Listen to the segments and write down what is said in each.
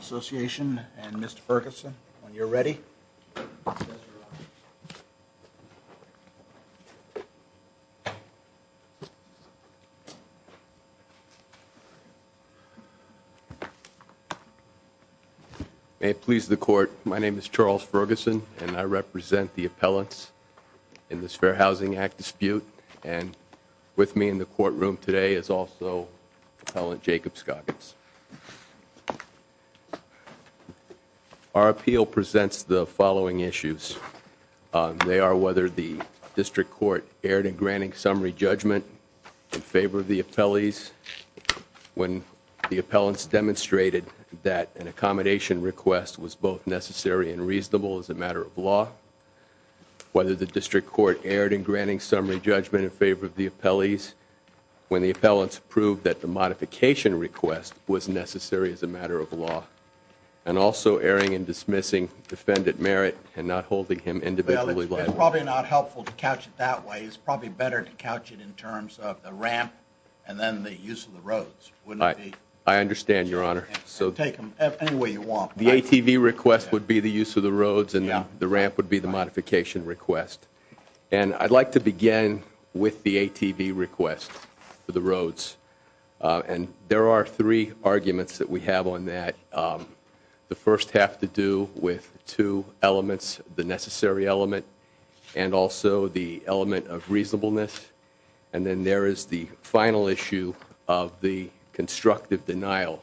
Association and Mr. Ferguson, when you're ready. May it please the court, my name is Charles Ferguson and I represent the appellants in this Fair Housing Act dispute and with me in the courtroom today is also Appellant Jacob Scoggins. Our appeal presents the following issues. They are whether the district court erred in granting summary judgment in favor of the appellees, when the appellants demonstrated that an accommodation request was both necessary and reasonable as a matter of law, whether the district court erred in granting summary judgment in favor of the appellees, when the appellants proved that the modification request was necessary as a matter of law, and also erring and dismissing defendant merit and not holding him individually liable. It's probably not helpful to couch it that way, it's probably better to couch it in terms of the ramp and then the use of the roads. I understand, your honor. The ATV request would be the use of the roads and the ramp would be the modification request and I'd like to begin with the ATV request for the roads and there are three arguments that we have on that. The first have to do with two elements, the necessary element and also the element of reasonableness and then there is the final issue of the constructive denial,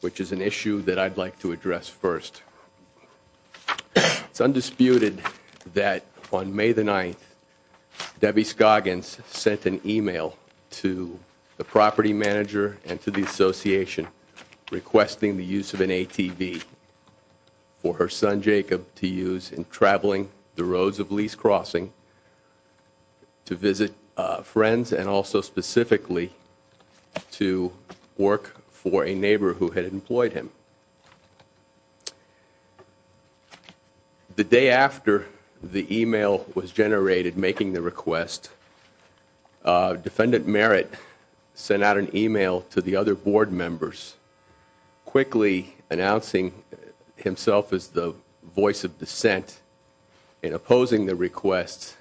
which is an issue that I'd like to address first. It's undisputed that on May the 9th, Debbie Scoggins sent an email to the property manager and to the association requesting the use of an ATV for her son Jacob to use in traveling the roads of Lee's Crossing to visit friends and also specifically to work for a neighbor who had employed him. The day after the email was generated making the request, defendant merit sent out an email to the voice of dissent in opposing the request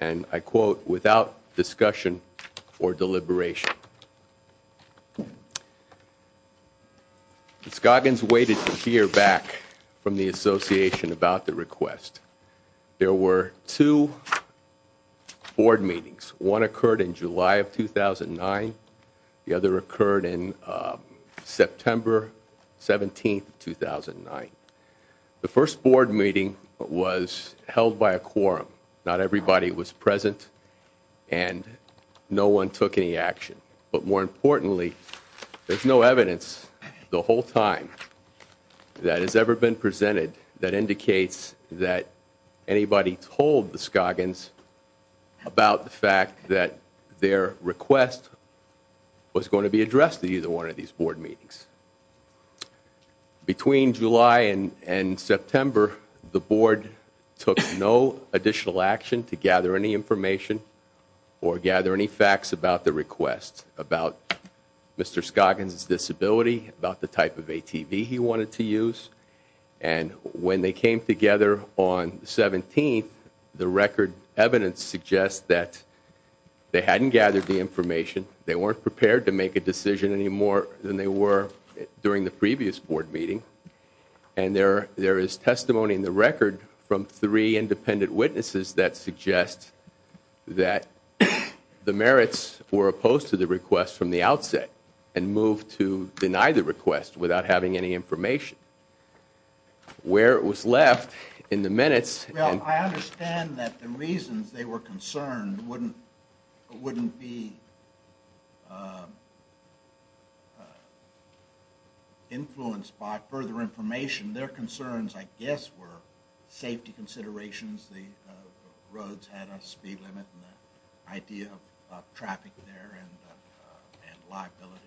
and I quote, without discussion or deliberation. Scoggins waited to hear back from the association about the request. There were two board meetings, one occurred in July of 2009, the other occurred in September 17th, 2009. The first board meeting was held by a quorum, not everybody was present and no one took any action, but more importantly there's no evidence the whole time that has ever been presented that indicates that anybody told the Scoggins about the fact that their request was going to be addressed to either one of these board meetings. Between July and September, the board took no additional action to gather any information or gather any facts about the request, about Mr. Scoggins' disability, about the type of ATV he wanted to use and when they came together on 17th, the record evidence suggests that they hadn't gathered the information, they weren't prepared to make a decision any more than they were during the previous board meeting and there is testimony in the record from three independent witnesses that suggest that the merits were opposed to the request from the outset and moved to deny the request without having any information. Where it was left in the influence by further information, their concerns I guess were safety considerations, the roads had a speed limit and the idea of traffic there and liability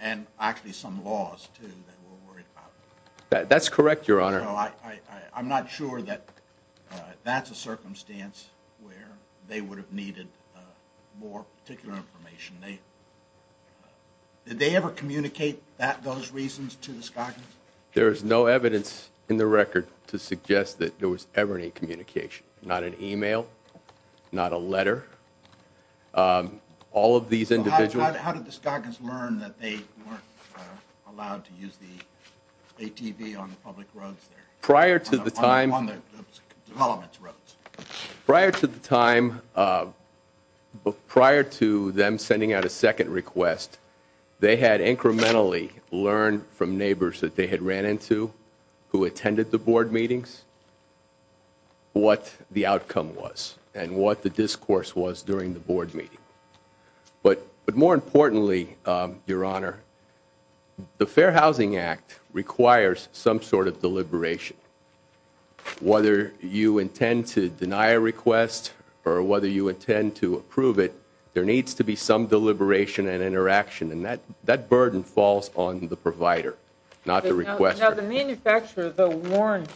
and actually some laws too that we're worried about. That's correct, Your Honor. I'm not sure that that's a circumstance where they would have needed more particular information. Did they ever communicate those reasons to the Scoggins? There is no evidence in the record to suggest that there was ever any communication. Not an email, not a letter, all of these individuals. How did the Scoggins learn that they weren't allowed to use the ATV on the public roads there? Prior to the time, prior to the time, prior to them sending out a second request, they had incrementally learned from neighbors that they had ran into who attended the board meetings what the outcome was and what the discourse was during the board meeting. But more importantly, Your Honor, the Fair Housing Act requires some sort of deliberation. Whether you intend to deny a request or whether you intend to approve it, there needs to be some deliberation and interaction and that that burden falls on the provider, not the requester. Now the manufacturer though warned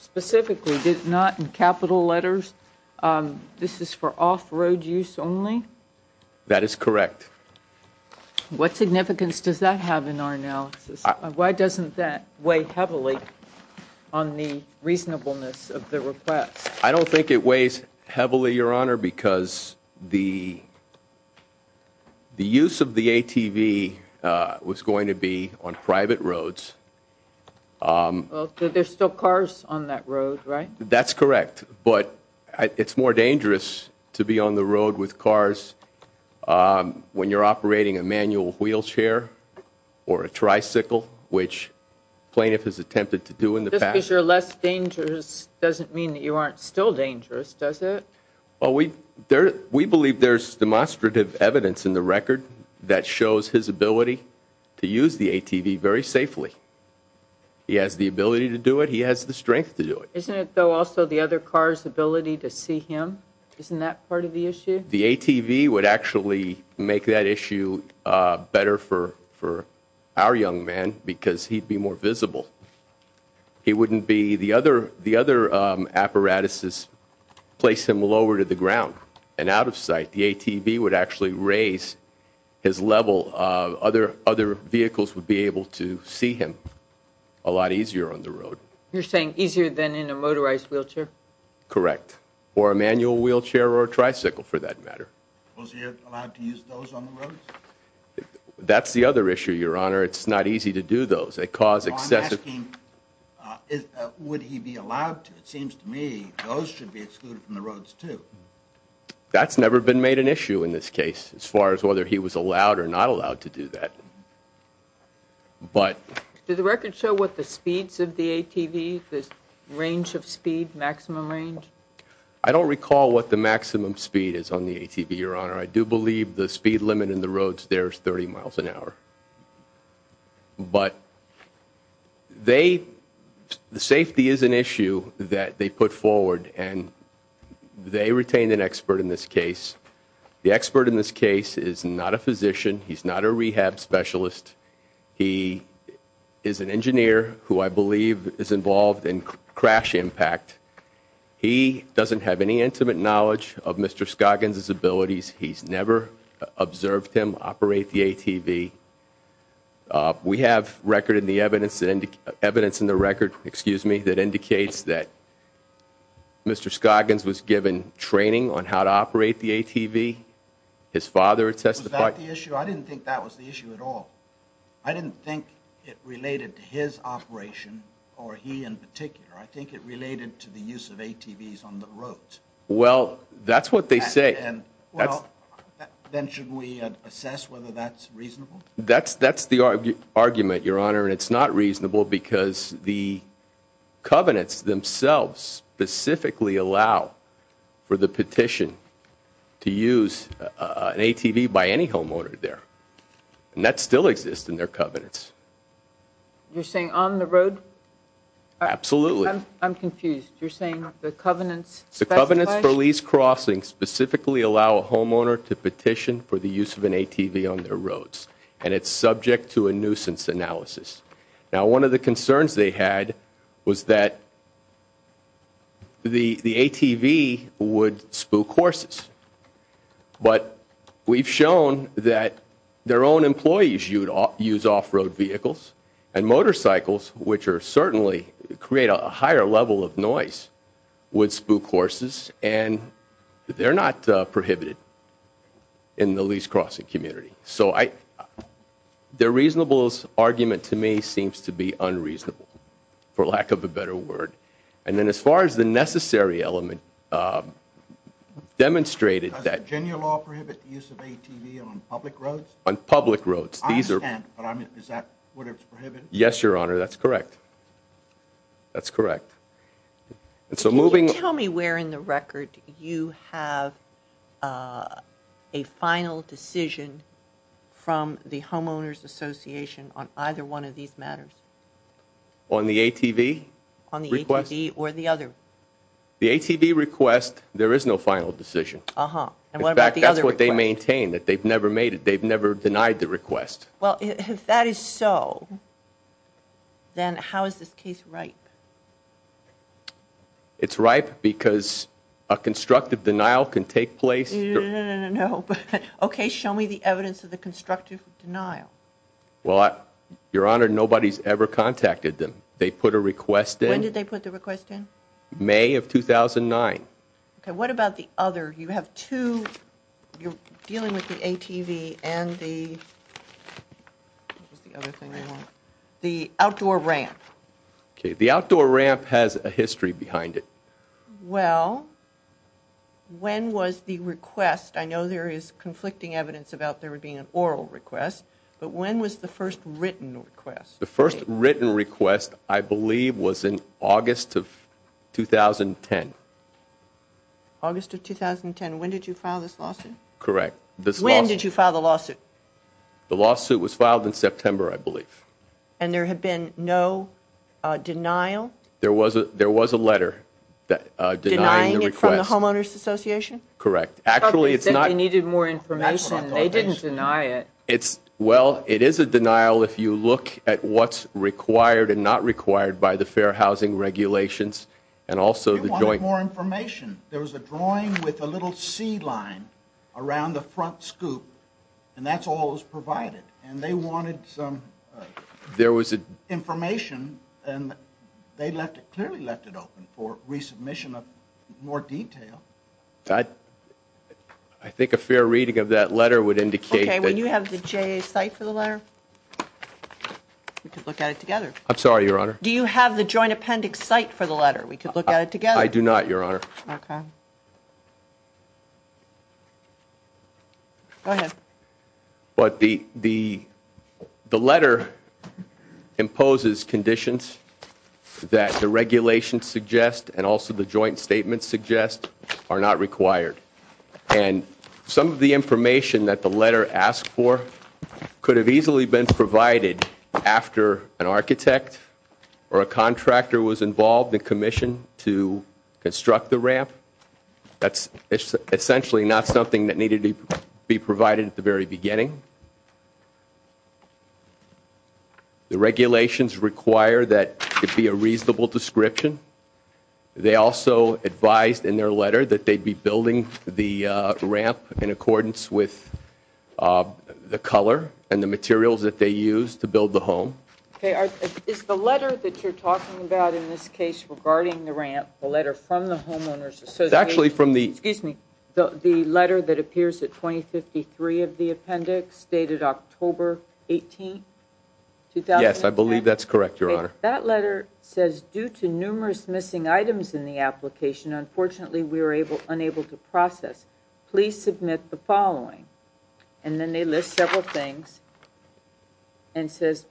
specifically, did not in capital letters, this is for off-road use only? That is correct. What significance does that have in our analysis? Why doesn't that weigh heavily on the reasonableness of the request? I don't think it weighs heavily, Your Honor, because the the use of the ATV was going to be on private roads. There's still cars on that road, right? That's correct, but it's more dangerous to be on the road with cars when you're operating a vehicle. Plaintiff has attempted to do in the past. Just because you're less dangerous doesn't mean that you aren't still dangerous, does it? Well, we believe there's demonstrative evidence in the record that shows his ability to use the ATV very safely. He has the ability to do it, he has the strength to do it. Isn't it though also the other car's ability to see him? Isn't that part of the issue? The ATV would actually make that issue better for our young man because he'd be more visible. The other apparatuses place him lower to the ground and out of sight. The ATV would actually raise his level. Other vehicles would be able to see him a lot easier on the road. You're saying easier than in a motorized wheelchair? Correct, or a manual wheelchair or a tricycle for that matter. Was he allowed to use those on the roads? That's the other issue, Your Honor. It's not easy to do those. They cause excessive... I'm asking, would he be allowed to? It seems to me those should be excluded from the roads too. That's never been made an issue in this case as far as whether he was allowed or not allowed to do that, but... Did the record show what the speeds of the ATV, this range of speed, maximum range? I don't recall what the maximum speed is on the ATV, Your Honor. I do believe the speed limit in the roads there is 30 miles an hour, but the safety is an issue that they put forward and they retained an expert in this case. The expert in this case is not a physician. He's not a rehab specialist. He is an engineer who I believe is involved in crash impact. He doesn't have any intimate knowledge of Mr. Scoggins' abilities. He's never observed him operate the ATV. We have record in the evidence, evidence in the record, excuse me, that indicates that Mr. Scoggins was given training on how to operate the ATV. His father testified... Was that the issue? I didn't think that was the issue at all. I didn't think it related to his operation or he in particular. I think it related to the use of ATVs on the roads. Well, that's what they say. Then should we assess whether that's reasonable? That's the argument, Your Honor, and it's not reasonable because the covenants themselves specifically allow for the petition to use an ATV by any homeowner there, and that still exists in their covenants. You're saying on the covenants for lease crossing specifically allow a homeowner to petition for the use of an ATV on their roads, and it's subject to a nuisance analysis. Now one of the concerns they had was that the ATV would spook horses, but we've shown that their own employees use off-road vehicles and motorcycles, which certainly create a higher level of noise, would spook horses. And they're not prohibited in the lease crossing community. So their reasonableness argument to me seems to be unreasonable, for lack of a better word. And then as far as the necessary element demonstrated... Does Virginia law prohibit the use of ATVs on public roads? On public roads. I understand, but is that what it's prohibited? Yes, Your Honor, that's correct. That's correct. Can you tell me where in the record you have a final decision from the Homeowners Association on either one of these matters? On the ATV request? On the ATV or the other? The ATV request, there is no final decision. Uh-huh, and what about the other request? In fact, that's what they maintain, that they've never made it, they've never denied the request. Well, if that is so, then how is this case ripe? It's ripe because a constructive denial can take place... No, no, no, no, no, no. Okay, show me the evidence of the constructive denial. Well, Your Honor, nobody's ever contacted them. They put a request in... When did they put the request in? May of 2009. Okay, what about the other? You have two... You're dealing with the ATV and the... What was the other thing they want? The outdoor ramp. Okay, the outdoor ramp has a history behind it. Well, when was the request, I know there is conflicting evidence about there being an oral request, but when was the first written request? The first written request, I believe, was in August of 2010. August of 2010, when did you file this lawsuit? Correct. When did you file the lawsuit? The lawsuit was filed in September, I believe. And there had been no denial? There was a letter denying the request. Denying it from the Homeowners Association? Correct. Actually, it's not... They said they needed more information, they didn't deny it. It's... Well, it is a denial if you look at what's required and not required by the Fair Housing Regulations and also the Joint... They wanted more information. There was a drawing with a little C-line around the front scoop, and that's all that was provided, and they wanted some... There was information, and they left it, clearly left it open for resubmission of more detail. I think a fair reading of that letter would indicate that... Okay, would you have the JA's site for the letter? We could look at it together. I'm sorry, Your Honor. Do you have the Joint Appendix site for the letter? We could look at it together. I do not, Your Honor. Okay. Go ahead. But the letter imposes conditions that the regulations suggest and also the joint statements suggest are not required. And some of the information that the letter asked for could have easily been provided after an architect or a contractor was involved and commissioned to construct the ramp. That's essentially not something that needed to be provided at the very beginning. The regulations require that it be a reasonable description. They also advised in their letter that they'd be building the ramp in accordance with the color and the materials that they used to build the home. Okay, is the letter that you're talking about in this case regarding the ramp, the letter from the homeowners association... It's actually from the... Excuse me, the letter that appears at 2053 of the appendix dated October 18th, 2010? Yes, I believe that's correct, Your Honor. That letter says, due to numerous missing items in the application, unfortunately, we were unable to process. Please submit the following. And then they list several things and says,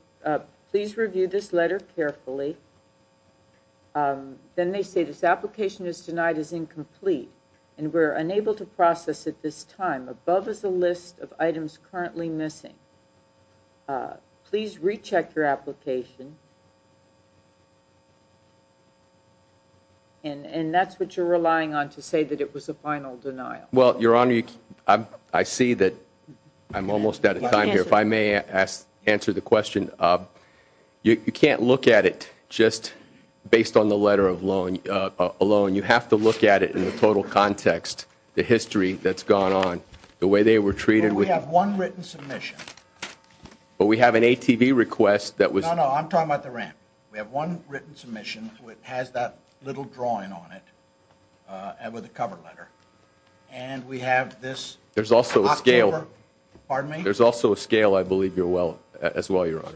please review this letter carefully. Then they say this application is denied as incomplete and we're unable to process at this time. Above is a list of items currently missing. Please recheck your application. And that's what you're relying on to say that it was a final denial. Well, Your Honor, I see that I'm almost out of time here. If I may answer the question, you can't look at it just based on the letter alone. You have to look at it in the total context, the history that's gone on, the way they were treated. We have one written submission. But we have an ATV request that was... No, no, I'm talking about the ramp. We have one written submission which has that little drawing on it with a cover letter. And we have this... There's also a scale. Pardon me? There's also a scale, I believe, as well, Your Honor.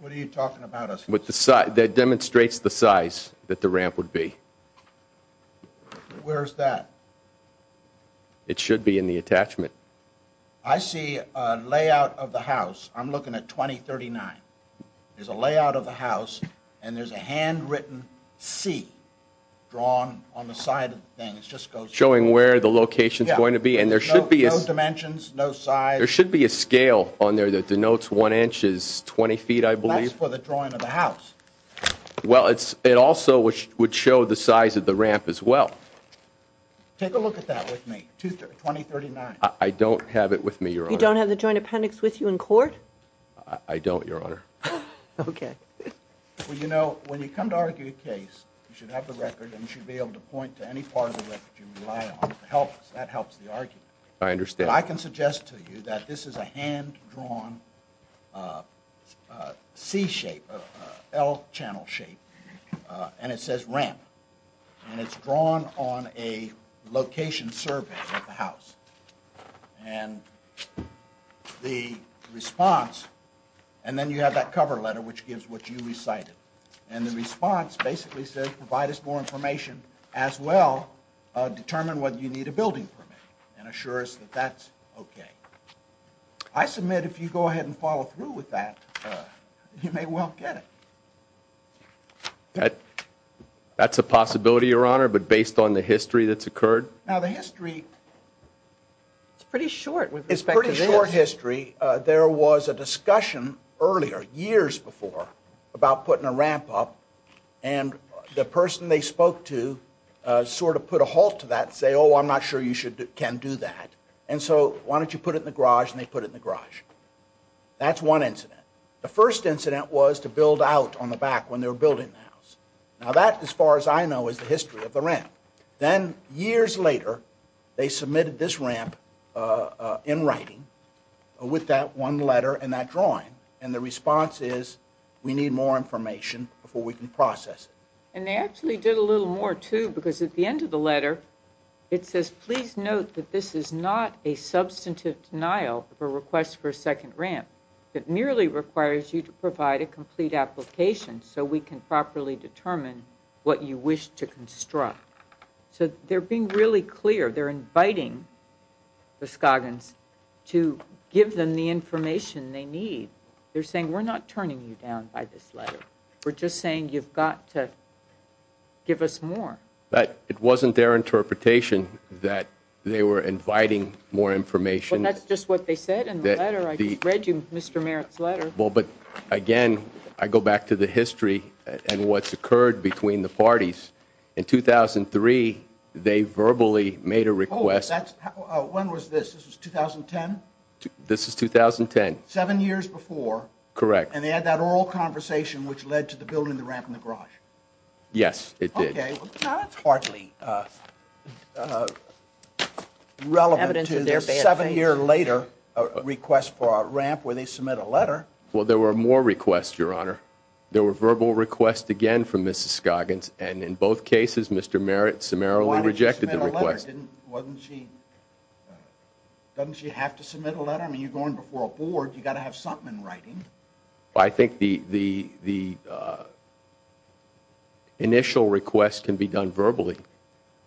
What are you talking about? That demonstrates the size that the ramp would be. Where's that? It should be in the attachment. I see a layout of the house. I'm looking at 2039. There's a layout of the house and there's a handwritten C drawn on the side of the thing. It just goes... Showing where the location's going to be? And there should be... No dimensions, no size. There should be a scale on there that denotes one inch is 20 feet, I believe. That's for the drawing of the house. Well, it also would show the size of the ramp as well. Take a look at that with me, 2039. I don't have it with me, Your Honor. You don't have the joint appendix with you in court? I don't, Your Honor. Okay. Well, you know, when you come to argue a case, you should have the record and you should be able to point to any part of the record you rely on to help us. That helps the argument. I understand. I can suggest to you that this is a hand-drawn C-shape, L-channel shape, and it says ramp. And it's drawn on a location survey of the house. And the response... And then you have that cover letter which gives what you recited. And the response basically says, provide us more information as well, determine whether you need a building permit, and assure us that that's okay. I submit if you go ahead and follow through with that, you may well get it. That's a possibility, Your Honor, but based on the history that's occurred? Now, the history... It's pretty short with respect to this. It's a pretty short history. There was a discussion earlier, years before, about putting a ramp up. And the person they spoke to sort of put a halt to that and say, oh, I'm not sure you can do that. And so, why don't you put it in the garage? And they put it in the garage. That's one incident. The first incident was to build out on the back when they were building the house. Now, that, as far as I know, is the history of the ramp. Then, years later, they submitted this ramp in writing with that one letter and that drawing. And the response is, we need more information before we can process it. And they actually did a little more, too, because at the end of the letter, it says, please note that this is not a substantive denial of a request for a second ramp. It merely requires you to provide a complete application so we can properly determine what you wish to construct. So, they're being really clear. They're inviting the Scoggins to give them the information they need. They're saying, we're not turning you down by this letter. We're just saying you've got to give us more. But it wasn't their interpretation that they were inviting more information. Well, that's just what they said in the letter. I just read you Mr. Merritt's letter. Well, but again, I go back to the history and what's occurred between the parties. In 2003, they verbally made a request. Oh, that's, when was this? This was 2010? This is 2010. Seven years before. Correct. And they had that oral conversation which led to the building of the ramp in the garage. Yes, it did. Okay, now that's hardly relevant to their seven year later request for a ramp where they submit a letter. Well, there were more requests, Your Honor. There were verbal requests again from Mrs. Scoggins. And in both cases, Mr. Merritt summarily rejected the request. Doesn't she have to submit a letter? I mean, you're going before a board. You've got to have something in writing. I think the initial request can be done verbally.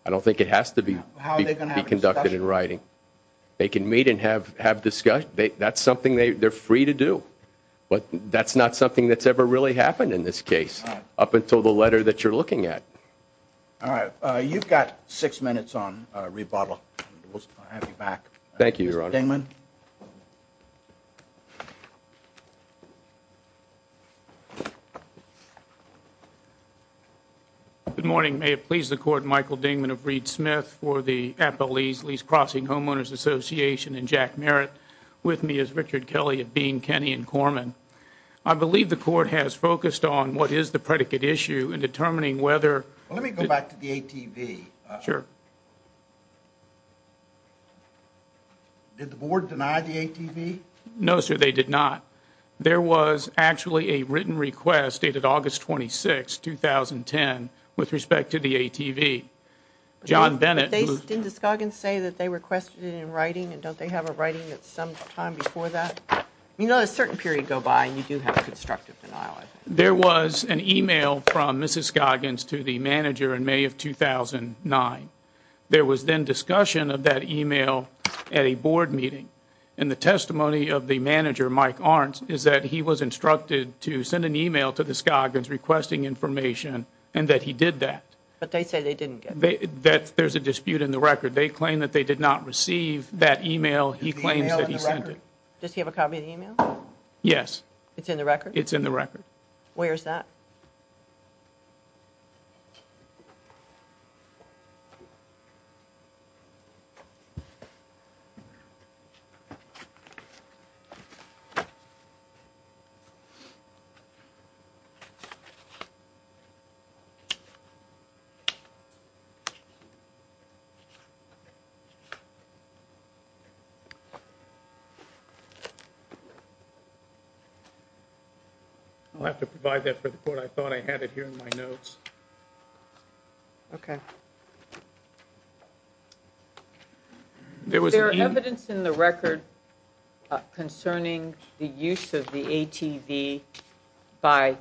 I don't think it has to be conducted in writing. They can meet and have discussion. That's something they're free to do. But that's not something that's ever really happened in this case, up until the letter that you're looking at. All right. You've got six minutes on rebuttal. We'll have you back. Thank you, Your Honor. Mr. Dingman. Good morning. May it please the court, Michael Dingman of Reed Smith for the Apple Ease Lease Crossing Homeowners Association and Jack Merritt. With me is Richard Kelly of Bean, Kenny, and Corman. I believe the court has focused on what is the predicate issue in determining whether... Well, let me go back to the ATV. Sure. Did the board deny the ATV? No, sir, they did not. There was actually a written request dated August 26, 2010, with respect to the ATV. John Bennett... Didn't Mrs. Scoggins say that they requested it in writing? And don't they have a writing at some time before that? You know, a certain period go by and you do have a constructive denial, I think. There was an email from Mrs. Scoggins to the manager in May of 2009. There was then discussion of that email at a board meeting. And the testimony of the manager, Mike Arntz, is that he was instructed to send an email to the Scoggins requesting information, and that he did that. But they say they didn't get that. There's a dispute in the record. They claim that they did not receive that email. He claims that he sent it. Does he have a copy of the email? Yes. It's in the record? It's in the record. Where is that? I'll have to provide that for the court. I thought I had it here in my notes. Okay. There was evidence in the record concerning the use of the ATV by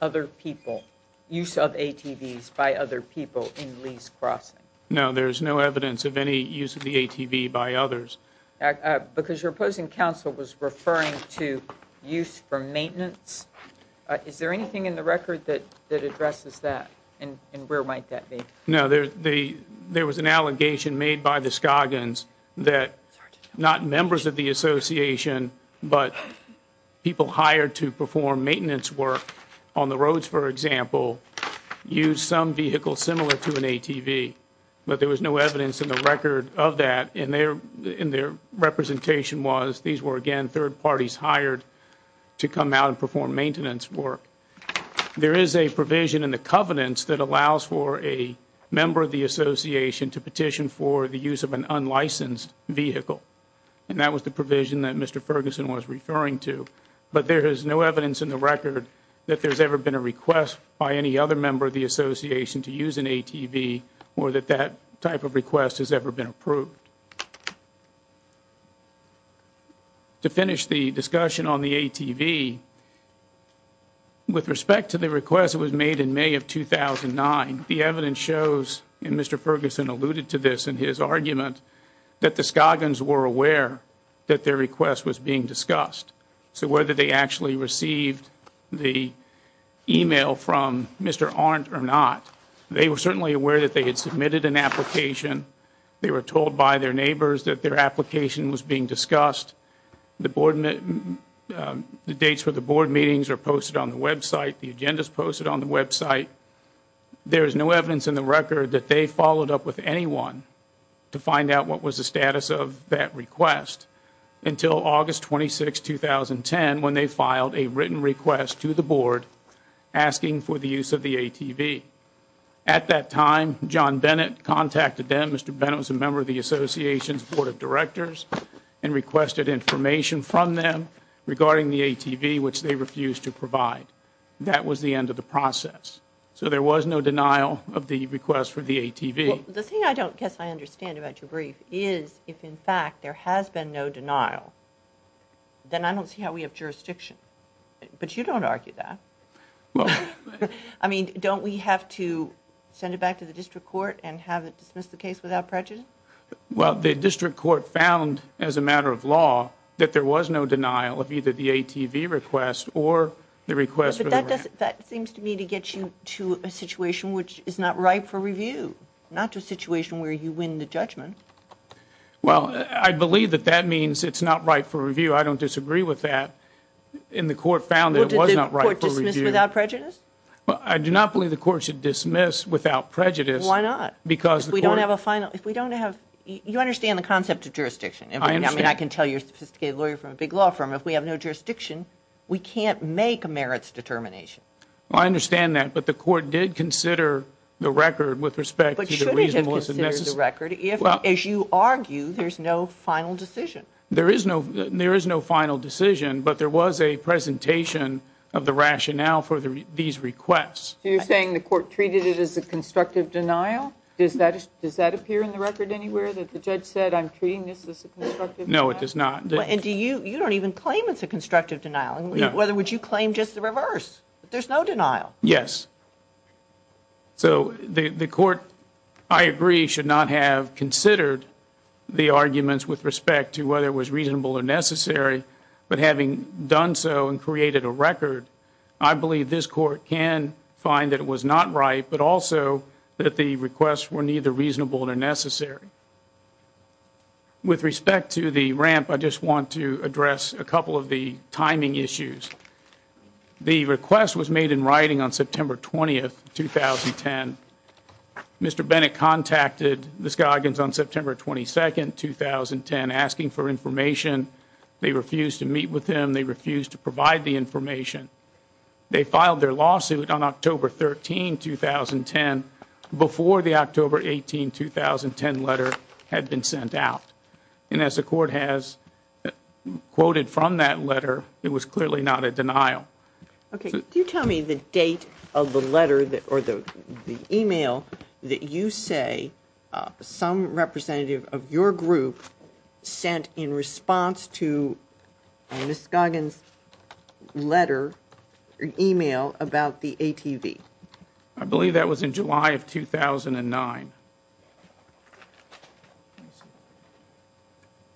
other people, use of ATVs by other people in Lee's Crossing. No, there's no evidence of any use of the ATV by others. Because your opposing counsel was referring to use for maintenance. Is there anything in the record that addresses that? And where might that be? No, there was an allegation made by the Scoggins that not members of the association, but people hired to perform maintenance work on the roads, for example, use some vehicle similar to an ATV, but there was no evidence in the record of that. And their representation was these were, again, third parties hired to come out and perform maintenance work. There is a provision in the covenants that allows for a member of the association to petition for the use of an unlicensed vehicle. And that was the provision that Mr. Ferguson was referring to. But there is no evidence in the record that there's ever been a request by any other member of the association to use an ATV, or that that type of request has ever been approved. To finish the discussion on the ATV, with respect to the request that was made in May of 2009, the evidence shows, and Mr. Ferguson alluded to this in his argument, that the Scoggins were aware that their request was being discussed. So whether they actually received the email from Mr. Arndt or not, they were certainly aware that they had submitted an application. They were told by their neighbors that their application was being discussed. The dates for the board meetings are posted on the website. The agenda is posted on the website. There is no evidence in the record that they followed up with anyone to find out what was the status of that request. Until August 26, 2010, when they filed a written request to the board asking for the use of the ATV. At that time, John Bennett contacted them. Mr. Bennett was a member of the association's board of directors and requested information from them regarding the ATV, which they refused to provide. That was the end of the process. So there was no denial of the request for the ATV. The thing I don't guess I understand about your brief is if, in fact, there has been no denial, then I don't see how we have jurisdiction. But you don't argue that. I mean, don't we have to send it back to the district court and have it dismiss the case without prejudice? Well, the district court found as a matter of law that there was no denial of either the ATV request or the request. That seems to me to get you to a situation which is not ripe for review, not to a situation where you win the judgment. Well, I believe that that means it's not right for review. I don't disagree with that. And the court found that it was not right for review. Without prejudice? Well, I do not believe the court should dismiss without prejudice. Why not? Because we don't have a final... If we don't have... You understand the concept of jurisdiction. I mean, I can tell you're a sophisticated lawyer from a big law firm. If we have no jurisdiction, we can't make a merits determination. Well, I understand that. But the court did consider the record with respect to the reasonableness of... As you argue, there's no final decision. There is no final decision, but there was a presentation of the rationale for these requests. So you're saying the court treated it as a constructive denial? Does that appear in the record anywhere that the judge said, I'm treating this as a constructive denial? No, it does not. And you don't even claim it's a constructive denial. Whether would you claim just the reverse? There's no denial. Yes. So the court, I agree, should not have considered the arguments with respect to whether it was reasonable or necessary. But having done so and created a record, I believe this court can find that it was not right, but also that the requests were neither reasonable nor necessary. With respect to the ramp, I just want to address a couple of the timing issues. The request was made in writing on September 20, 2010. Mr. Bennett contacted the Skagans on September 22, 2010, asking for information. They refused to meet with him. They refused to provide the information. They filed their lawsuit on October 13, 2010, before the October 18, 2010 letter had been sent out. And as the court has quoted from that letter, it was clearly not a denial. Okay. Do you tell me the date of the letter or the email that you say some representative of your group sent in response to Ms. Skagans' letter or email about the ATV? I believe that was in July of 2009.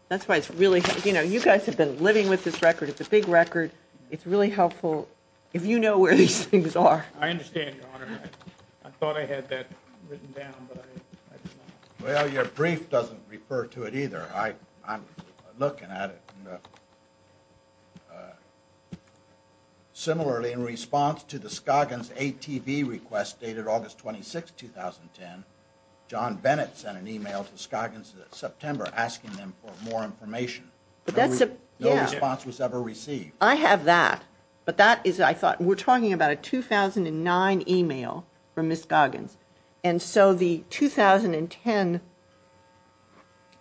That's why it's really, you know, you guys have been living with this record. It's a big record. It's really helpful if you know where these things are. I understand, Your Honor. I thought I had that written down, but I did not. Well, your brief doesn't refer to it either. I'm looking at it. Similarly, in response to the Skagans' ATV request dated August 26, 2010, John Bennett sent an email to Skagans in September asking them for more information. No response was ever received. I have that, but that is, I thought, we're talking about a 2009 email from Ms. Skagans. And so the 2010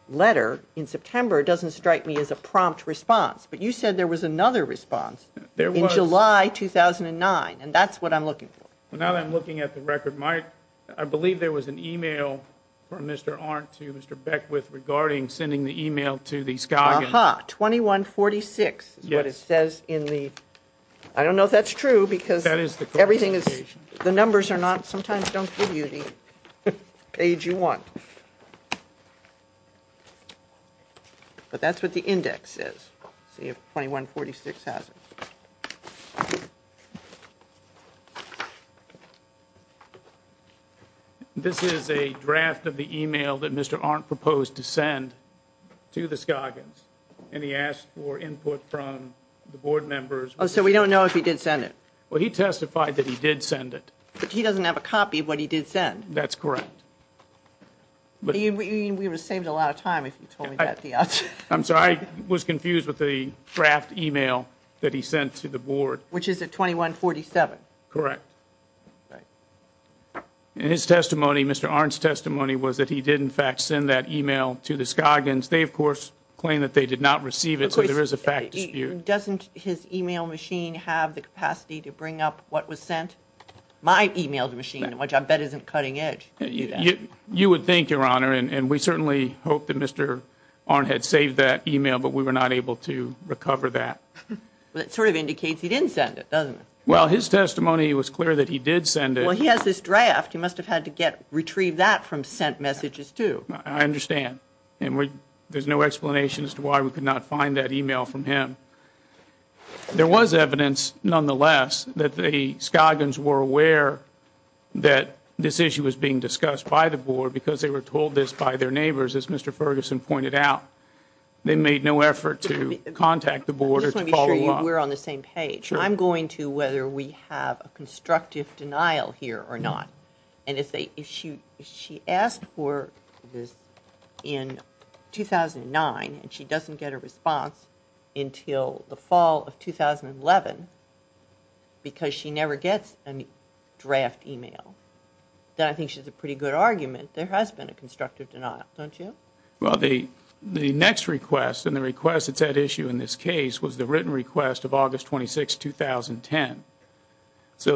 letter in September doesn't strike me as a prompt response, but you said there was another response in July 2009, and that's what I'm looking for. Now that I'm looking at the record, I believe there was an email from Mr. Arndt to Mr. Beckwith regarding sending the email to the Skagans. Uh-huh. 2146 is what it says in the, I don't know if that's true because everything is, the numbers are not, sometimes don't give you the page you want. But that's what the index says. See if 2146 has it. Okay. This is a draft of the email that Mr. Arndt proposed to send to the Skagans, and he asked for input from the board members. Oh, so we don't know if he did send it. Well, he testified that he did send it. But he doesn't have a copy of what he did send. That's correct. We would have saved a lot of time if you told me that at the outset. I'm sorry, I was confused with the draft email that he sent to the board. Which is at 2147. Correct. In his testimony, Mr. Arndt's testimony was that he did in fact send that email to the Skagans. They of course claim that they did not receive it, so there is a fact dispute. Doesn't his email machine have the capacity to bring up what was sent? My email machine, which I bet isn't cutting edge. You would think, Your Honor, and we certainly hope that Mr. Arndt had saved that email, but we were not able to recover that. That sort of indicates he didn't send it, doesn't it? Well, his testimony was clear that he did send it. Well, he has this draft. He must have had to retrieve that from sent messages, too. I understand. And there's no explanation as to why we could not find that email from him. There was evidence, nonetheless, that the Skagans were aware that this issue was being discussed by the board because they were told this by their neighbors, as Mr. Ferguson pointed out. They made no effort to contact the board We're on the same page. I'm going to whether we have a constructive denial here or not. And if she asked for this in 2009 and she doesn't get a response until the fall of 2011 because she never gets a draft email, then I think she's a pretty good argument there has been a constructive denial, don't you? Well, the next request and the request that's at issue in this case was the written request of August 26, 2010.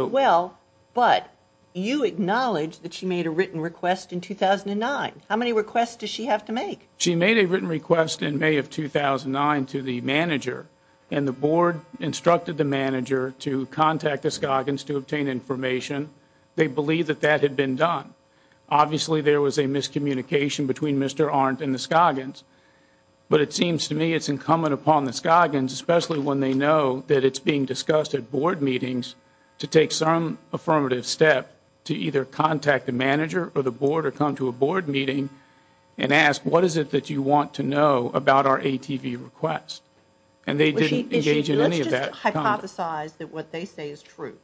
Well, but you acknowledge that she made a written request in 2009. How many requests does she have to make? She made a written request in May of 2009 to the manager and the board instructed the manager to contact the Skagans to obtain information. They believe that that had been done. Obviously, there was a miscommunication between Mr. Arndt and the Skagans. But it seems to me it's incumbent upon the Skagans, especially when they know that it's being discussed at board meetings to take some affirmative step to either contact the manager or the board or come to a board meeting and ask what is it that you want to know about our ATV request? And they didn't engage in any of that. Let's just hypothesize that what they say is true.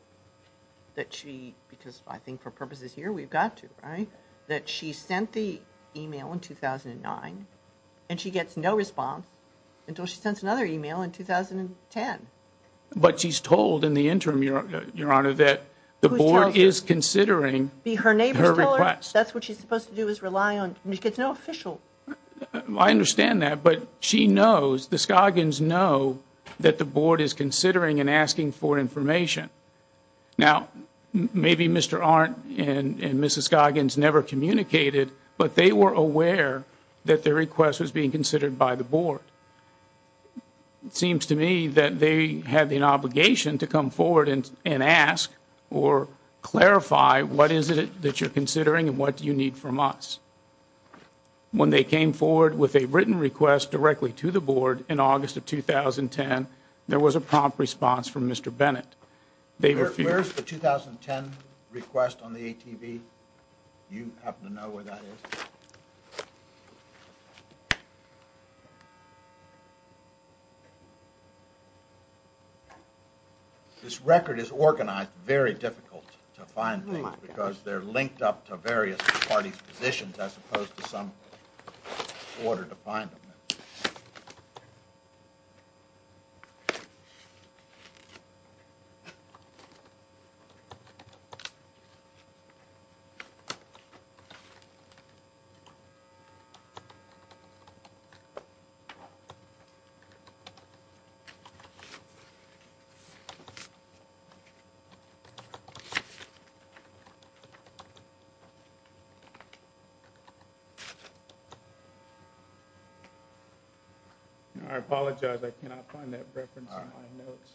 That she, because I think for purposes here, we've got to, right? That she sent the email in 2009 and she gets no response until she sends another email in 2010. But she's told in the interim, Your Honor, that the board is considering her request. That's what she's supposed to do is rely on, and she gets no official. I understand that, but she knows, the Skagans know that the board is considering and asking for information. Now, maybe Mr. Arndt and Mrs. Skagans never communicated, but they were aware that their request was being considered by the board. It seems to me that they had an obligation to come forward and ask or clarify what is it that you're considering and what do you need from us? When they came forward with a written request directly to the board in August of 2010, there was a prompt response from Mr. Bennett. Where's the 2010 request on the ATV? You happen to know where that is? This record is organized very difficult to find things because they're linked up to various parties' positions as opposed to some order to find them. I apologize, I cannot find that reference in my notes.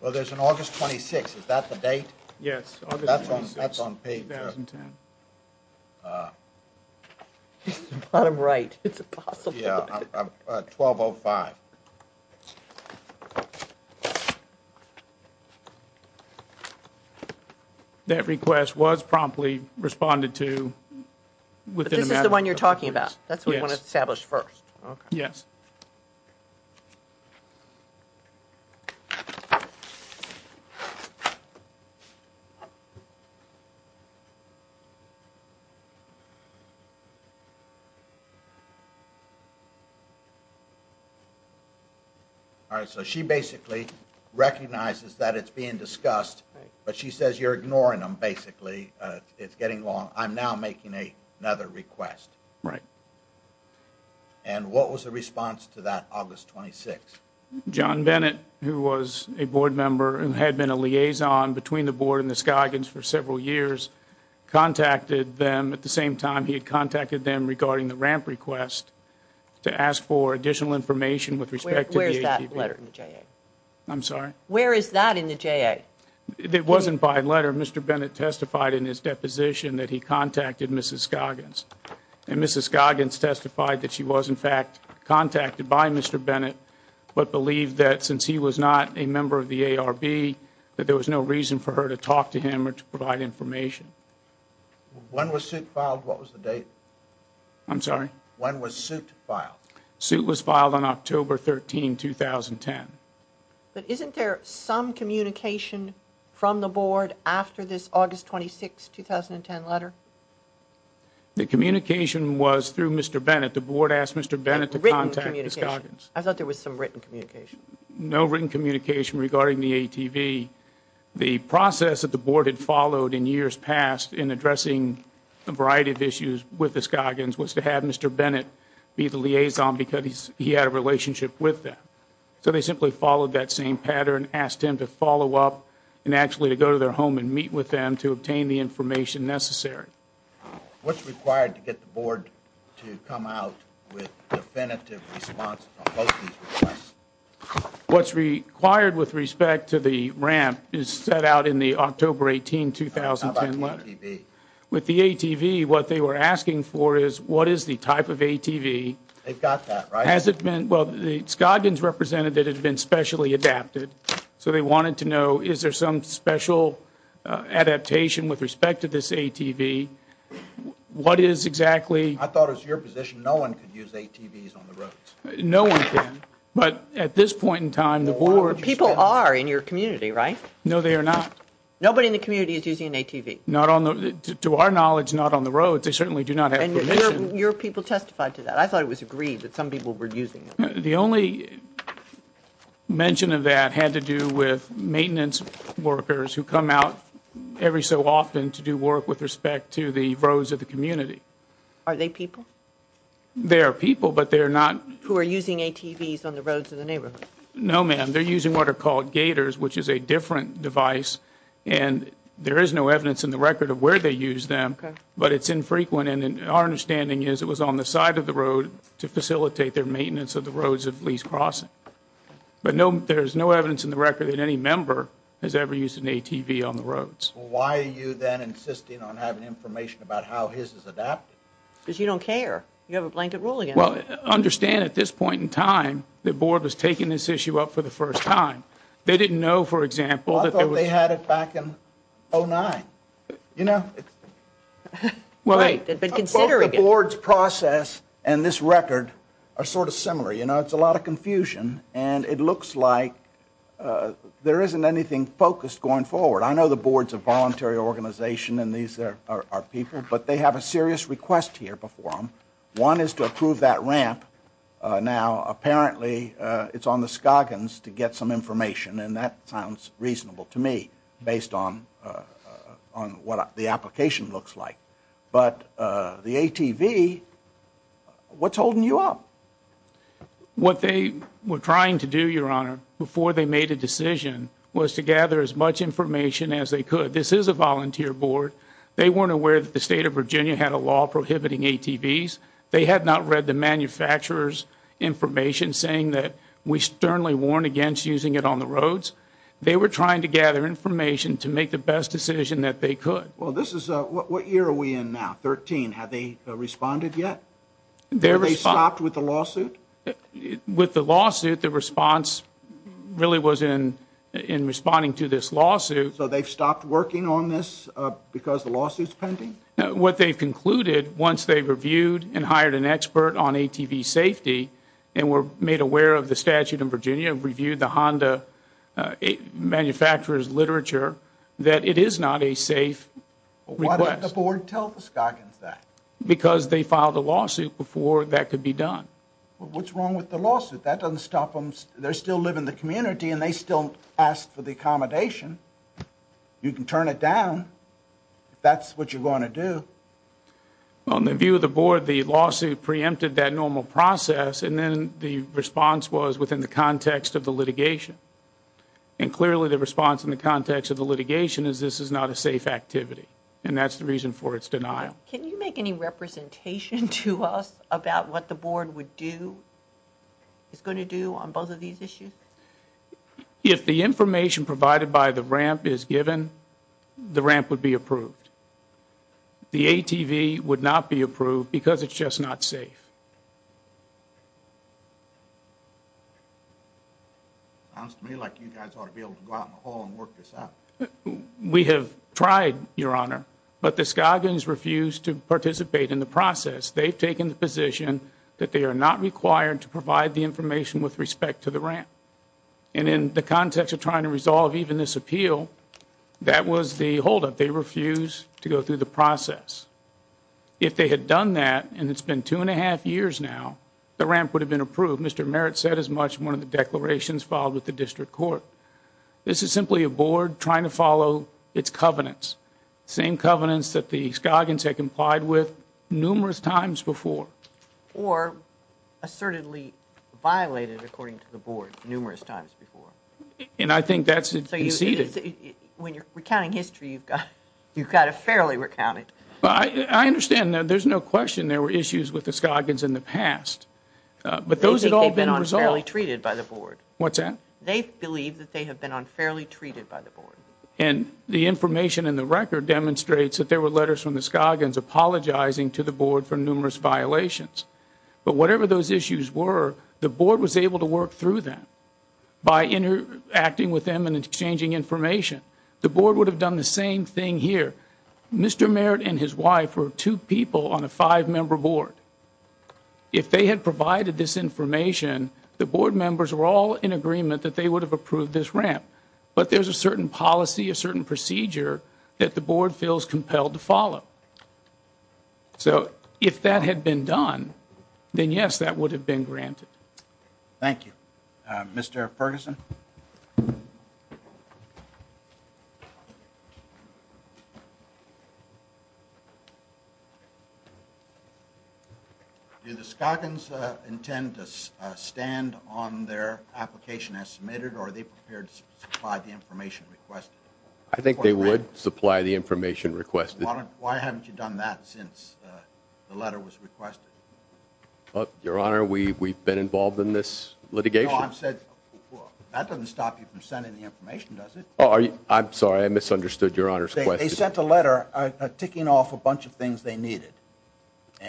Well, there's an August 26th, is that the date? Yes, August 26th, 2010. Bottom right, it's impossible. Yeah, 1205. That request was promptly responded to within a matter of a couple of minutes. But this is the one you're talking about? That's what you want to establish first? Yes. All right, so she basically recognizes that it's being discussed, but she says you're ignoring them basically, it's getting long. I'm now making another request. Right. And what was the response to that August 26th? John Bennett, who was a board member and had been a liaison between the board and the Scoggins for several years, contacted them at the same time he had contacted them regarding the ramp request to ask for additional information with respect to the ATV. Where is that letter in the JA? I'm sorry? Where is that in the JA? It wasn't by letter, Mr. Bennett testified in his deposition that he contacted Mrs. Scoggins. And Mrs. Scoggins testified that she was in fact contacted by Mr. Bennett, but believed that since he was not a member of the ARB, that there was no reason for her to talk to him or to provide information. When was it filed? What was the date? I'm sorry? When was suit filed? Suit was filed on October 13, 2010. But isn't there some communication from the board after this August 26, 2010 letter? The communication was through Mr. Bennett. The board asked Mr. Bennett to contact Mrs. Scoggins. I thought there was some written communication. No written communication regarding the ATV. The process that the board had followed in years past in addressing a variety of issues with the Scoggins was to have Mr. Bennett be the liaison because he had a relationship with them. So they simply followed that same pattern, asked him to follow up and actually to go to their home and meet with them to obtain the information necessary. What's required to get the board to come out with definitive responses? What's required with respect to the ramp is set out in the October 18, 2010 letter. With the ATV, what they were asking for is what is the type of ATV? They've got that, right? Has it been, well, the Scoggins representative had been specially adapted, so they wanted to know is there some special adaptation with respect to this ATV? What is exactly? I thought it was your position no one could use ATVs on the roads. No one can, but at this point in time, the board... People are in your community, right? No, they are not. Nobody in the community is using an ATV. Not on the, to our knowledge, not on the roads. They certainly do not have permission. Your people testified to that. I thought it was agreed that some people were using them. The only mention of that had to do with maintenance workers who come out every so often to do work with respect to the roads of the community. Are they people? They are people, but they are not... Who are using ATVs on the roads of the neighborhood? No, ma'am. They're using what are called gators, which is a different device. And there is no evidence in the record of where they use them, but it's infrequent. And our understanding is it was on the side of the road to facilitate their maintenance of the roads of Lee's Crossing. But there's no evidence in the record that any member has ever used an ATV on the roads. Why are you then insisting on having information about how his is adapted? Because you don't care. You have a blanket ruling. Well, understand at this point in time, the board was taking this issue up for the first time. They didn't know, for example, that there was... I thought they had it back in 09. You know, it's... Right, but considering it... Both the board's process and this record are sort of similar. It's a lot of confusion, and it looks like there isn't anything focused going forward. I know the board's a voluntary organization, and these are people, but they have a serious request here before them. One is to approve that ramp. Now, apparently, it's on the Scoggins to get some information, and that sounds reasonable to me based on what the application looks like. But the ATV, what's holding you up? What they were trying to do, Your Honor, before they made a decision, was to gather as much information as they could. This is a volunteer board. They weren't aware that the state of Virginia had a law prohibiting ATVs. They had not read the manufacturer's information saying that we sternly warn against using it on the roads. They were trying to gather information to make the best decision that they could. Well, this is... What year are we in now? 13. Have they responded yet? Have they stopped with the lawsuit? With the lawsuit, the response really was in responding to this lawsuit. So they've stopped working on this because the lawsuit's pending? What they've concluded, once they've reviewed and hired an expert on ATV safety and were made aware of the statute in Virginia, reviewed the Honda manufacturer's literature, that it is not a safe request. Why didn't the board tell the Scoggins that? Because they filed a lawsuit before that could be done. What's wrong with the lawsuit? That doesn't stop them. They still live in the community and they still ask for the accommodation. You can turn it down if that's what you want to do. Well, in the view of the board, the lawsuit preempted that normal process and then the response was within the context of the litigation. And clearly the response in the context of the litigation is this is not a safe activity. And that's the reason for its denial. Can you make any representation to us about what the board would do, is going to do on both of these issues? If the information provided by the ramp is given, the ramp would be approved. The ATV would not be approved because it's just not safe. Sounds to me like you guys ought to be able to go out in the hall and work this out. We have tried, Your Honor. But the Scoggins refused to participate in the process. They've taken the position that they are not required to provide the information with respect to the ramp. And in the context of trying to resolve even this appeal, that was the holdup. They refused to go through the process. If they had done that, and it's been two and a half years now, the ramp would have been approved. Mr. Merritt said as much in one of the declarations filed with the district court. This is simply a board trying to follow its covenants. Same covenants that the Scoggins had complied with numerous times before. Or assertedly violated, according to the board, numerous times before. And I think that's conceded. When you're recounting history, you've got to fairly recount it. I understand. There's no question there were issues with the Scoggins in the past. But those have all been resolved. They've been unfairly treated by the board. What's that? They believe that they have been unfairly treated by the board. And the information in the record demonstrates that there were letters from the Scoggins apologizing to the board for numerous violations. But whatever those issues were, the board was able to work through them by interacting with them and exchanging information. The board would have done the same thing here. Mr. Merritt and his wife were two people on a five-member board. If they had provided this information, the board members were all in agreement that they would have approved this ramp. But there's a certain policy, a certain procedure, that the board feels compelled to follow. So if that had been done, then yes, that would have been granted. Thank you. Mr. Ferguson. Do the Scoggins intend to stand on their application as submitted, or are they prepared to supply the information requested? I think they would supply the information requested. Why haven't you done that since the letter was requested? Your Honor, we've been involved in this litigation. No, I said that doesn't stop you from sending the information, does it? Oh, I'm sorry. I misunderstood Your Honor's question. They sent a letter ticking off a bunch of things they needed.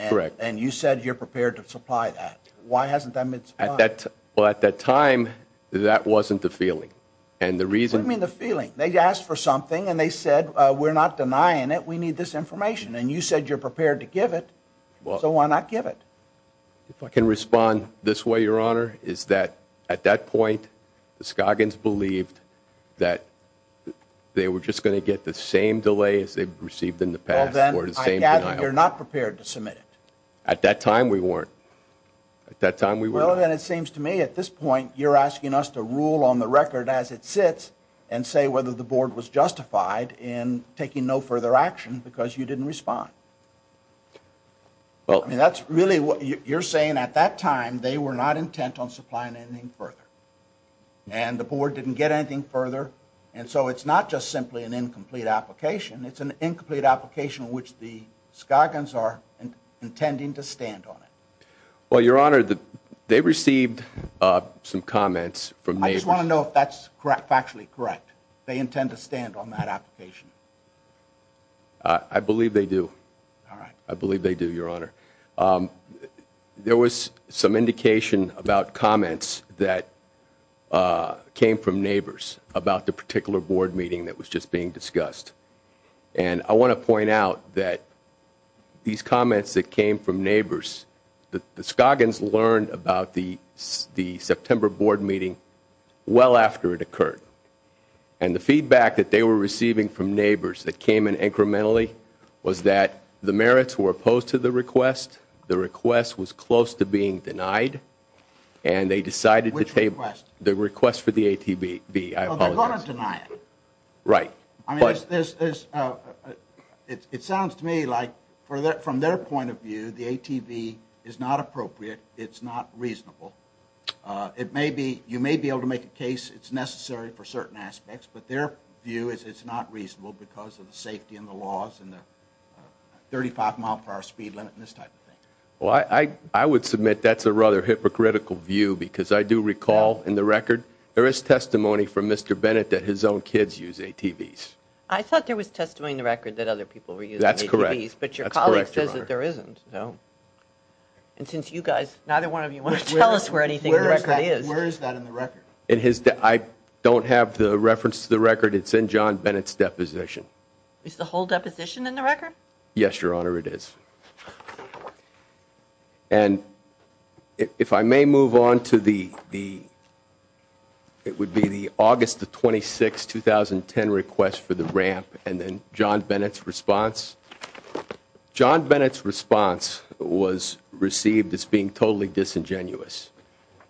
Correct. And you said you're prepared to supply that. Why hasn't that been supplied? Well, at that time, that wasn't the feeling. And the reason... What do you mean, the feeling? They asked for something and they said, we're not denying it, we need this information. And you said you're prepared to give it, so why not give it? If I can respond this way, Your Honor, is that at that point, the Scoggins believed that they were just going to get the same delay as they've received in the past. Well, then I gather you're not prepared to submit it. At that time, we weren't. At that time, we weren't. Well, then it seems to me at this point, you're asking us to rule on the record as it sits and say whether the board was justified in taking no further action because you didn't respond. Well, I mean, that's really what you're saying. At that time, they were not intent on supplying anything further and the board didn't get anything further. And so it's not just simply an incomplete application, it's an incomplete application in which the Scoggins are intending to stand on it. Well, Your Honor, they received some comments from... I just want to know if that's factually correct. They intend to stand on that application. I believe they do. All right. I believe they do, Your Honor. There was some indication about comments that came from neighbors about the particular board meeting that was just being discussed. And I want to point out that these comments that came from neighbors, the Scoggins learned about the September board meeting well after it occurred. And the feedback that they were receiving from neighbors that came in incrementally was that the merits were opposed to the request, the request was close to being denied, and they decided to take... Which request? The request for the ATV. Well, they're going to deny it. Right. I mean, it sounds to me like from their point of view, the ATV is not appropriate, it's not reasonable. You may be able to make a case it's necessary for certain aspects, but their view is it's not reasonable because of the safety and the laws and the 35 mile per hour speed limit and this type of thing. Well, I would submit that's a rather hypocritical view because I do recall in the record, there is testimony from Mr. Bennett that his own kids use ATVs. I thought there was testimony in the record that other people were using ATVs. That's correct. But your colleague says that there isn't. And since you guys, neither one of you want to tell us where anything in the record is. Where is that in the record? I don't have the reference to the record. It's in John Bennett's deposition. Is the whole deposition in the record? Yes, Your Honor, it is. And if I may move on to the, it would be the August 26, 2010 request for the ramp and then John Bennett's response. John Bennett's response was received as being totally disingenuous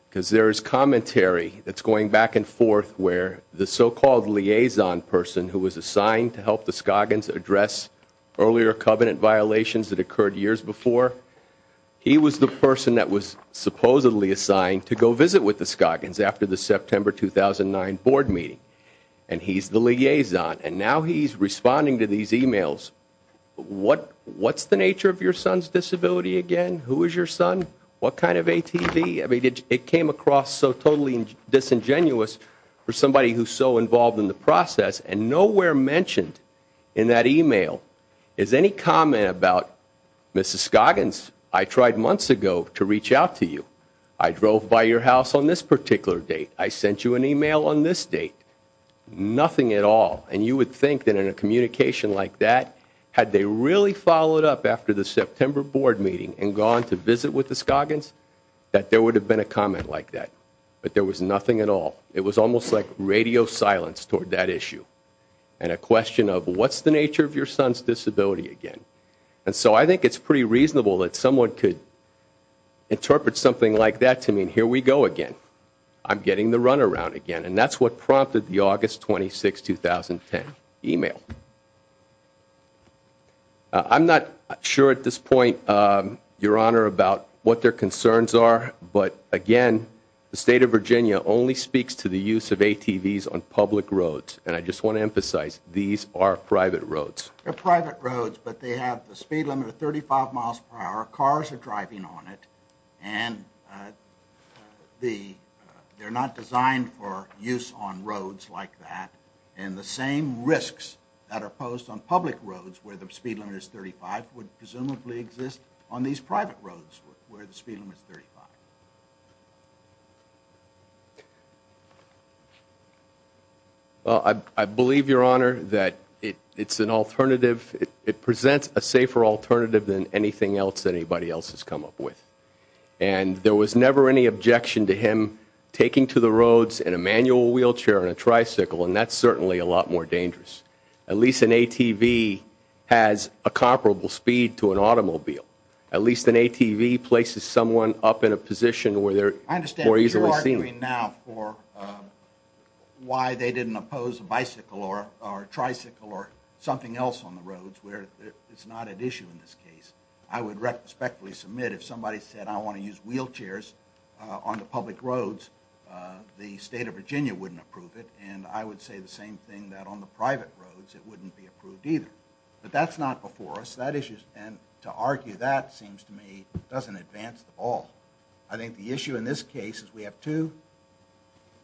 because there is commentary that's going back and forth where the so-called liaison person who was assigned to help the Scoggins address earlier covenant violations that occurred years before, he was the person that was supposedly assigned to go visit with the Scoggins after the September 2009 board meeting and he's the liaison. And now he's responding to these emails. What's the nature of your son's disability again? Who is your son? What kind of ATV? It came across so totally disingenuous for somebody who's so involved in the process and nowhere mentioned in that email is any comment about, Mrs. Scoggins, I tried months ago to reach out to you. I drove by your house on this particular date. I sent you an email on this date. Nothing at all. And you would think that in a communication like that, had they really followed up after the September board meeting and gone to visit with the Scoggins, that there would have been a comment like that. But there was nothing at all. It was almost like radio silence toward that issue. And a question of what's the nature of your son's disability again? And so I think it's pretty reasonable that someone could interpret something like that to mean, here we go again. I'm getting the runaround again. And that's what prompted the August 26, 2010 email. I'm not sure at this point, your honor, about what their concerns are. But again, the state of Virginia only speaks to the use of ATVs on public roads. And I just want to emphasize, these are private roads. They're private roads, but they have the speed limit of 35 miles per hour. Cars are driving on it. And they're not designed for use on roads like that. And the same risks that are posed on public roads where the speed limit is 35 would presumably exist on these private roads where the speed limit is 35. Well, I believe, your honor, that it presents a safer alternative than anything else anybody else has come up with. And there was never any objection to him taking to the roads in a manual wheelchair and a certainly a lot more dangerous. At least an ATV has a comparable speed to an automobile. At least an ATV places someone up in a position where they're more easily seen. I understand you're arguing now for why they didn't oppose a bicycle or a tricycle or something else on the roads where it's not an issue in this case. I would respectfully submit if somebody said, I want to use wheelchairs on the public roads, the state of Virginia wouldn't approve it. And I would say the same thing that on the private roads it wouldn't be approved either. But that's not before us. And to argue that seems to me doesn't advance the ball. I think the issue in this case is we have two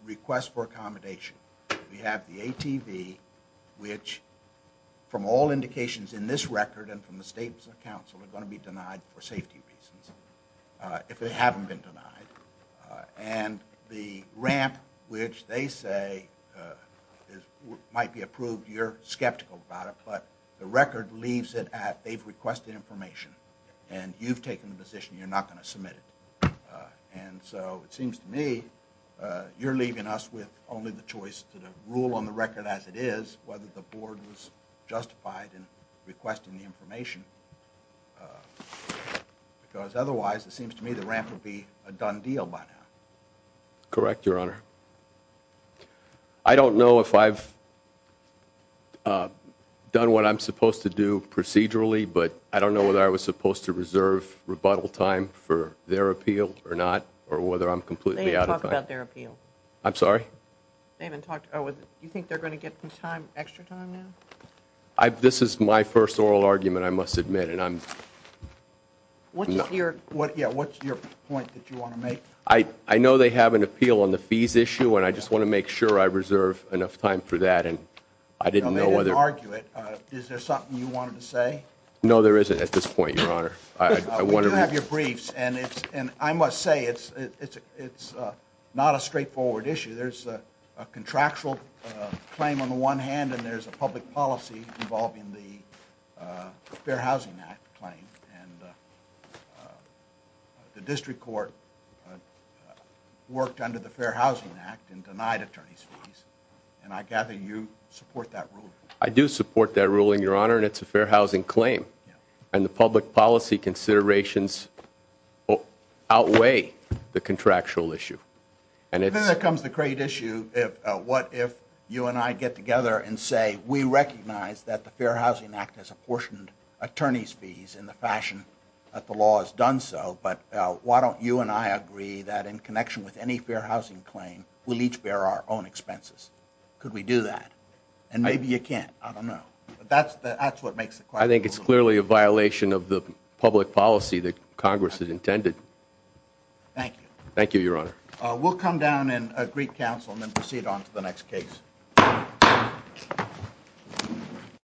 requests for accommodation. We have the ATV, which from all indications in this record and from the state's counsel are going to be denied for safety reasons if they haven't been denied. And the ramp, which they say might be approved, you're skeptical about it. But the record leaves it at they've requested information and you've taken the position you're not going to submit it. And so it seems to me you're leaving us with only the choice to rule on the record as it is whether the board was justified in requesting the information. Because otherwise, it seems to me the ramp would be a done deal by now. Correct, your honor. I don't know if I've done what I'm supposed to do procedurally, but I don't know whether I was supposed to reserve rebuttal time for their appeal or not or whether I'm completely out of time. They didn't talk about their appeal. I'm sorry? They haven't talked about it. Do you think they're going to get some time, extra time now? This is my first oral argument. I must admit, and I'm... What's your point that you want to make? I know they have an appeal on the fees issue, and I just want to make sure I reserve enough time for that. And I didn't know whether... No, they didn't argue it. Is there something you wanted to say? No, there isn't at this point, your honor. We do have your briefs, and I must say it's not a straightforward issue. There's a contractual claim on the one hand, and there's a public policy involving the Fair Housing Act claim, and the district court worked under the Fair Housing Act and denied attorneys fees, and I gather you support that ruling? I do support that ruling, your honor, and it's a fair housing claim, and the public policy considerations outweigh the contractual issue, and it's... Then there comes the great issue of what if you and I get together and say, we recognize that the Fair Housing Act has apportioned attorneys fees in the fashion that the law has done so, but why don't you and I agree that in connection with any fair housing claim, we'll each bear our own expenses? Could we do that? And maybe you can't. I don't know, but that's what makes it... I think it's clearly a violation of the public policy that Congress has intended. Thank you. Thank you, your honor. We'll come down and greet counsel and then proceed on to the next case. Thank you.